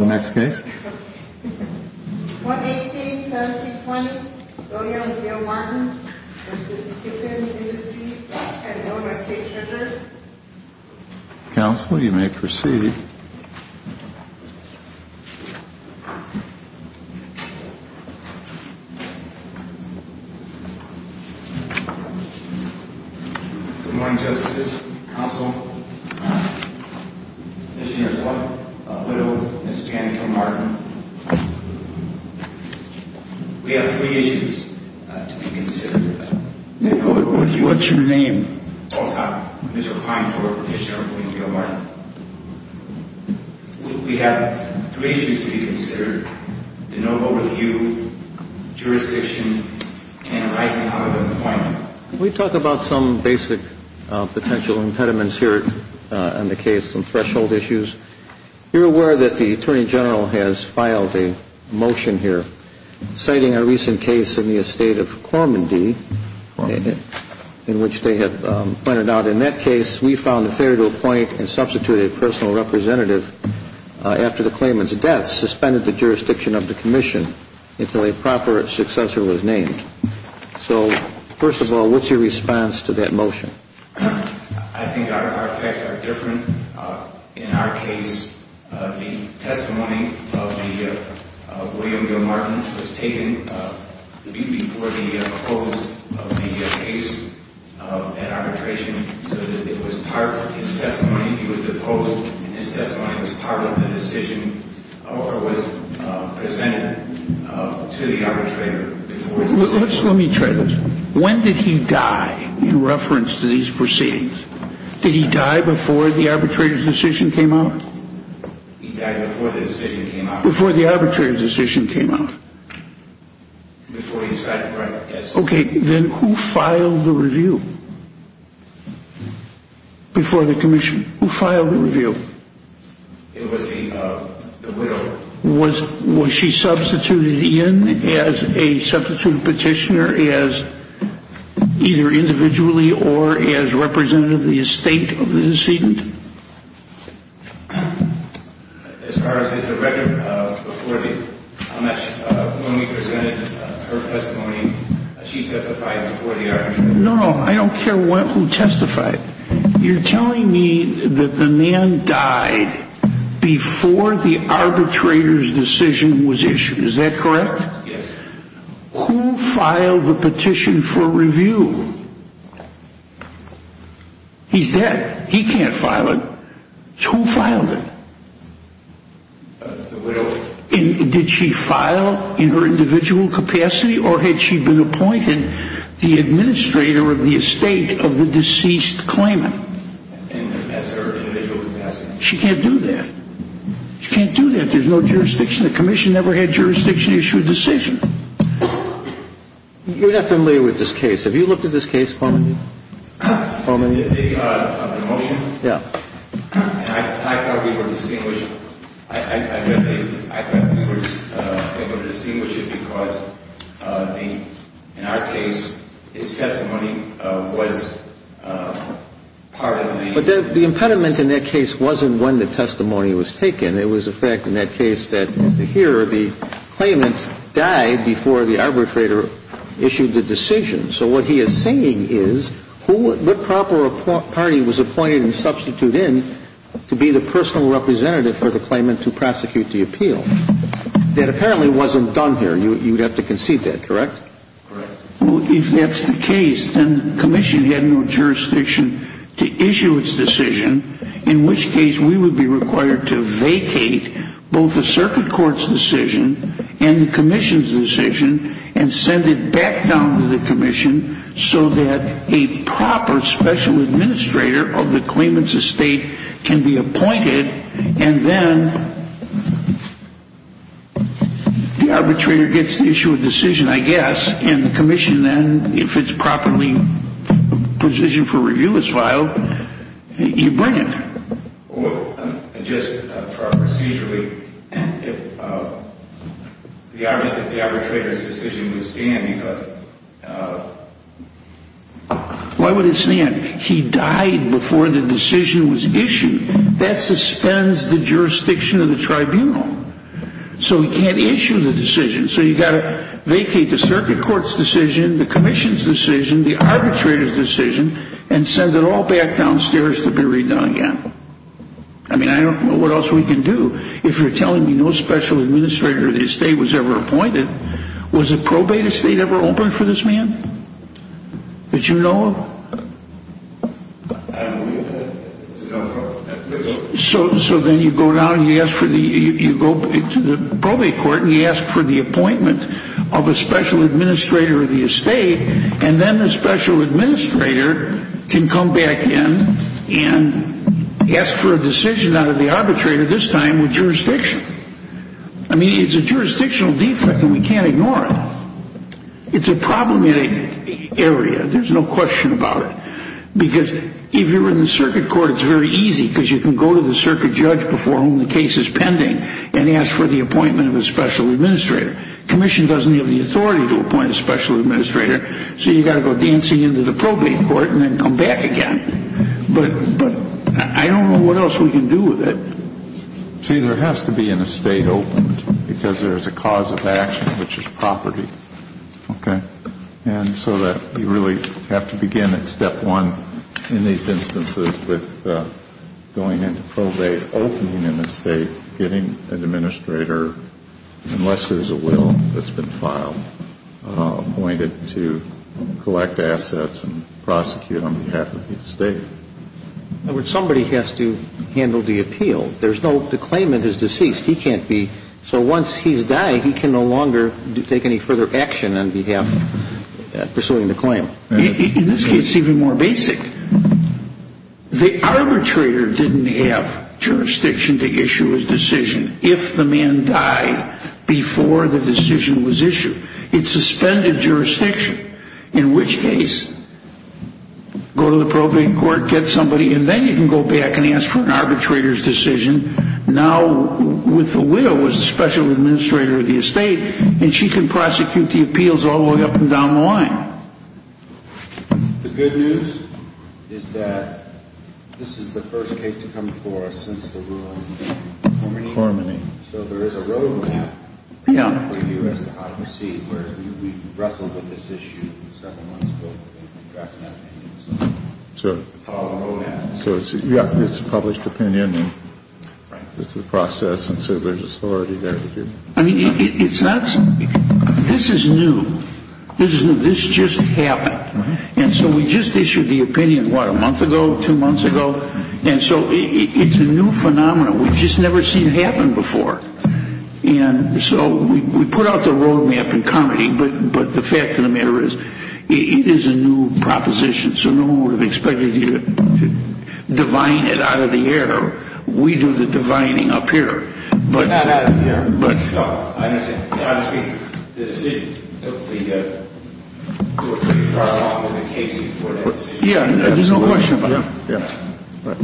118-1720 Williams v. L. Martin v. Gibson, Newspeak v. Illinois State Treasurer Counsel, you may proceed. Good morning, Justices. Counsel, Commissioner Ford, a widow, Ms. Jan Kilmartin. We have three issues to be considered. What's your name? Paul Topp, Mr. Klein, former petitioner of William L. Martin. We have three issues to be considered. The noble review, jurisdiction, and licensing of employment. Can we talk about some basic potential impediments here in the case, some threshold issues? You're aware that the Attorney General has filed a motion here citing a recent case in the estate of Cormondy, in which they have pointed out, in that case, we found it fair to appoint and substitute a personal representative after the claimant's death, suspended the jurisdiction of the commission until a proper successor was named. So, first of all, what's your response to that motion? I think our facts are different. In our case, the testimony of William L. Martin was taken before the close of the case at arbitration, so that it was part of his testimony. He was deposed, and his testimony was part of the decision, or was presented to the arbitrator before his decision. Let me try this. When did he die in reference to these proceedings? Did he die before the arbitrator's decision came out? He died before the decision came out. Before the arbitrator's decision came out? Before he decided to write the case. Okay, then who filed the review before the commission? Who filed the review? It was the widow. Was she substituted in as a substitute petitioner as either individually or as representative of the estate of the decedent? As far as the record, when we presented her testimony, she testified before the arbitration. No, I don't care who testified. You're telling me that the man died before the arbitrator's decision was issued. Is that correct? Yes. Who filed the petition for review? He's dead. He can't file it. Who filed it? The widow. Did she file in her individual capacity, or had she been appointed the administrator of the estate of the deceased claimant? As her individual capacity. She can't do that. She can't do that. There's no jurisdiction. The commission never had jurisdiction to issue a decision. You're not familiar with this case. Have you looked at this case, Coleman? The motion? Yeah. I thought we were distinguishing. I thought we were able to distinguish it because in our case, his testimony was part of the... But the impediment in that case wasn't when the testimony was taken. It was, in fact, in that case that here the claimant died before the arbitrator issued the decision. So what he is saying is what proper party was appointed and substituted in to be the personal representative for the claimant to prosecute the appeal? That apparently wasn't done here. You would have to concede that, correct? Correct. Well, if that's the case, then the commission had no jurisdiction to issue its decision, in which case we would be required to vacate both the circuit court's decision and the commission's decision and send it back down to the commission so that a proper special administrator of the claimant's estate can be appointed and then the arbitrator gets to issue a decision, I guess, and the commission then, if it's properly positioned for review, is filed, you bring it. Just procedurally, if the arbitrator's decision was stand, because... Why would it stand? He died before the decision was issued. That suspends the jurisdiction of the tribunal. So he can't issue the decision. So you've got to vacate the circuit court's decision, the commission's decision, the arbitrator's decision, and send it all back downstairs to be redone again. I mean, I don't know what else we can do. If you're telling me no special administrator of the estate was ever appointed, was a probate estate ever opened for this man? That you know of? So then you go down and you go to the probate court and you ask for the appointment of a special administrator of the estate, and then the special administrator can come back in and ask for a decision out of the arbitrator, this time with jurisdiction. I mean, it's a jurisdictional defect and we can't ignore it. It's a problematic area. There's no question about it. Because if you're in the circuit court, it's very easy because you can go to the circuit judge before whom the case is pending and ask for the appointment of a special administrator. Commission doesn't have the authority to appoint a special administrator, so you've got to go dancing into the probate court and then come back again. But I don't know what else we can do with it. See, there has to be an estate open because there's a cause of action, which is property, okay? And so that you really have to begin at step one in these instances with going into probate, opening an estate, getting an administrator, unless there's a will that's been filed, appointed to collect assets and prosecute on behalf of the estate. In other words, somebody has to handle the appeal. There's no – the claimant is deceased. He can't be – so once he's died, he can no longer take any further action on behalf – pursuing the claim. In this case, it's even more basic. The arbitrator didn't have jurisdiction to issue his decision if the man died before the decision was issued. It suspended jurisdiction, in which case, go to the probate court, get somebody, and then you can go back and ask for an arbitrator's decision. Now, with the will, with the special administrator of the estate, and she can prosecute the appeals all the way up and down the line. The good news is that this is the first case to come before us since the ruin of Cormany. So there is a road map for you as to how to proceed, whereas we wrestled with this issue several months ago. We drafted an opinion, so it's all a road map. So it's a – yeah, it's a published opinion, and it's a process, and so there's authority there to do it. I mean, it's not – this is new. This is new. This just happened. And so we just issued the opinion, what, a month ago, two months ago? And so it's a new phenomenon. We've just never seen it happen before. And so we put out the road map in comedy, but the fact of the matter is it is a new proposition, so no one would have expected you to divine it out of the air. We do the divining up here. But – Not out of the air. But – No, I understand. Honestly, the city took the – took pretty far along with the case before that city. Yeah, there's no question about it. Yeah. Yeah. Right.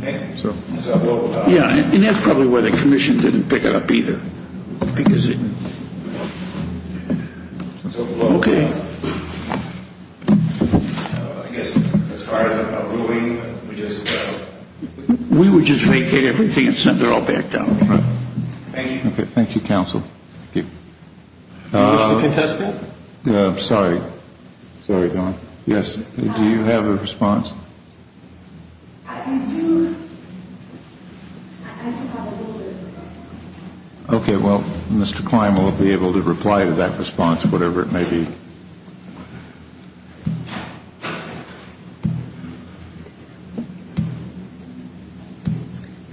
Thank you. So we'll – Yeah, and that's probably why the commission didn't pick it up either, because it – Okay. I guess as far as a ruin, we just – We would just vacate everything and send it all back down. Right. Thank you. Okay. Thank you, counsel. Thank you. Mr. Contesta? Sorry. Sorry, Don. Yes. Do you have a response? Okay. Well, Mr. Klein will be able to reply to that response, whatever it may be.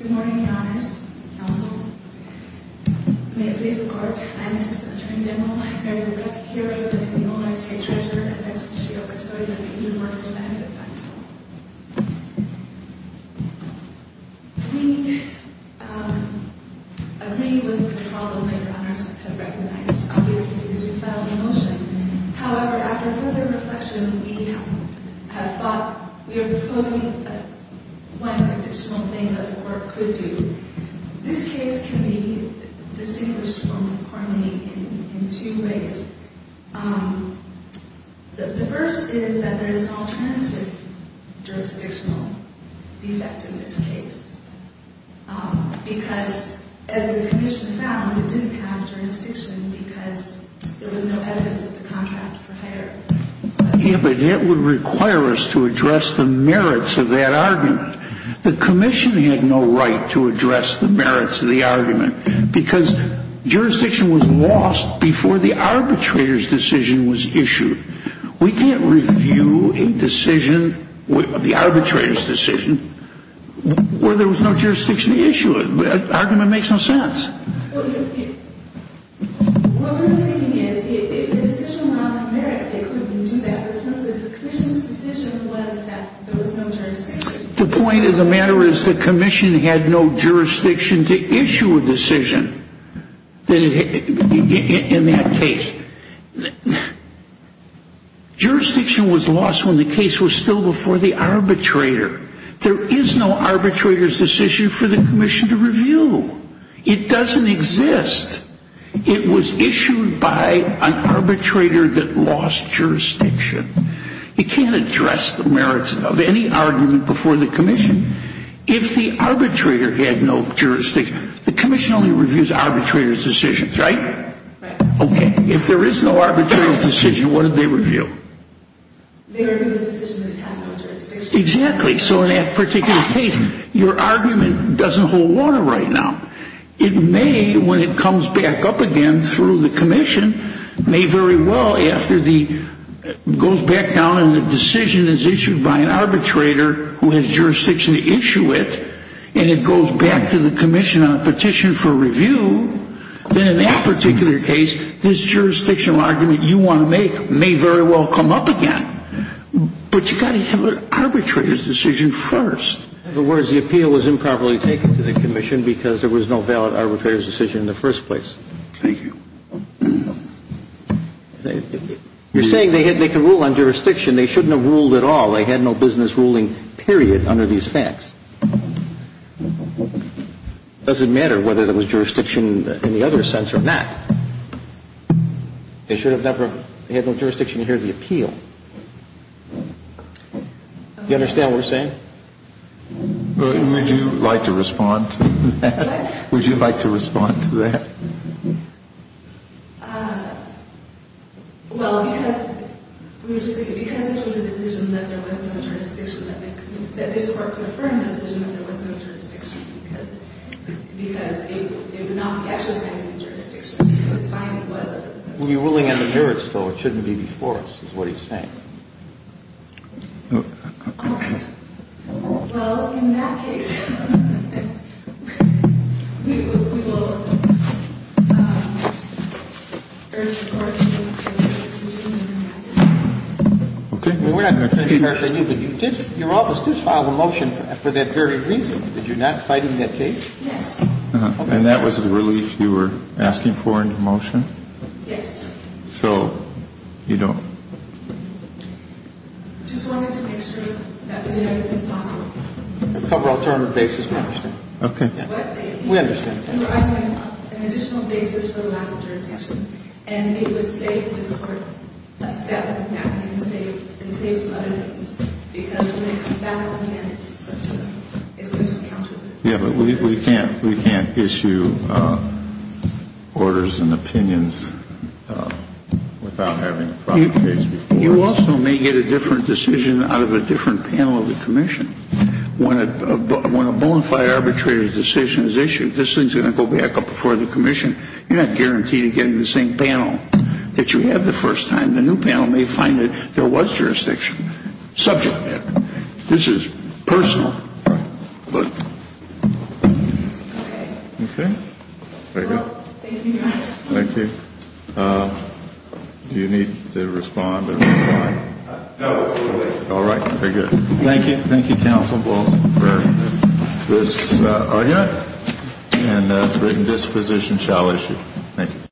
Good morning, Your Honors. Counsel. May it please the Court, I am Assistant Attorney General Mary Woodcock, here to present the Illinois State Treasurer, Assistant Chief of Custodian, a new mortgage benefit fund. We agree with the problem that Your Honors have recognized. Obviously, because we filed the motion. However, after further reflection, we have thought – we are proposing one jurisdictional thing that the Court could do. This case can be distinguished from the court meeting in two ways. The first is that there is an alternative jurisdictional defect in this case. Because, as the commission found, it didn't have jurisdiction because there was no evidence that the contract were higher. Yeah, but that would require us to address the merits of that argument. The commission had no right to address the merits of the argument because jurisdiction was lost before the arbitrator's decision was issued. We can't review a decision, the arbitrator's decision, where there was no jurisdiction to issue it. That argument makes no sense. What we're thinking is, if the decision went on the merits, they couldn't even do that because the commission's decision was that there was no jurisdiction. The point of the matter is the commission had no jurisdiction to issue a decision in that case. Jurisdiction was lost when the case was still before the arbitrator. There is no arbitrator's decision for the commission to review. It doesn't exist. It was issued by an arbitrator that lost jurisdiction. You can't address the merits of any argument before the commission if the arbitrator had no jurisdiction. The commission only reviews arbitrator's decisions, right? Right. Okay, if there is no arbitrator's decision, what do they review? They review the decision that had no jurisdiction. Exactly, so in that particular case, your argument doesn't hold water right now. It may, when it comes back up again through the commission, may very well, after it goes back down and the decision is issued by an arbitrator who has jurisdiction to issue it, and it goes back to the commission on a petition for review, then in that particular case, this jurisdictional argument you want to make may very well come up again. But you've got to have an arbitrator's decision first. In other words, the appeal was improperly taken to the commission because there was no valid arbitrator's decision in the first place. Thank you. You're saying they could rule on jurisdiction. They shouldn't have ruled at all. They had no business ruling, period, under these facts. It doesn't matter whether there was jurisdiction in the other sense or not. They should have never had no jurisdiction to hear the appeal. Do you understand what we're saying? Would you like to respond to that? Would you like to respond to that? Well, because this was a decision that there was no jurisdiction, that this Court could affirm the decision that there was no jurisdiction because it would not be exercised in the jurisdiction. It's fine if it wasn't. Well, you're ruling on the jurist, though. It shouldn't be before us is what he's saying. Of course. Well, in that case, we will urge the Court to make a decision in that case. Okay. We're not going to take it personally, but you did – your office did file a motion for that very reason, that you're not citing that case? Yes. And that was the relief you were asking for in the motion? Yes. So you don't? Just wanted to make sure that we did everything possible. Cover alternative basis, we understand. Okay. We understand. An additional basis for the lack of jurisdiction, and it would save this Court a step Yeah, but we can't issue orders and opinions without having a proper case before us. You also may get a different decision out of a different panel of the Commission. When a bonafide arbitrator's decision is issued, this thing's going to go back up before the Commission. You're not guaranteed of getting the same panel that you had the first time. And the new panel may find that there was jurisdiction subject to that. This is personal. Okay. Okay. Very good. Thank you, Your Honor. Thank you. Do you need to respond? No, we're good. All right. Very good. Thank you. Thank you, counsel. We'll bring this argument and written disposition shall issue. Thank you.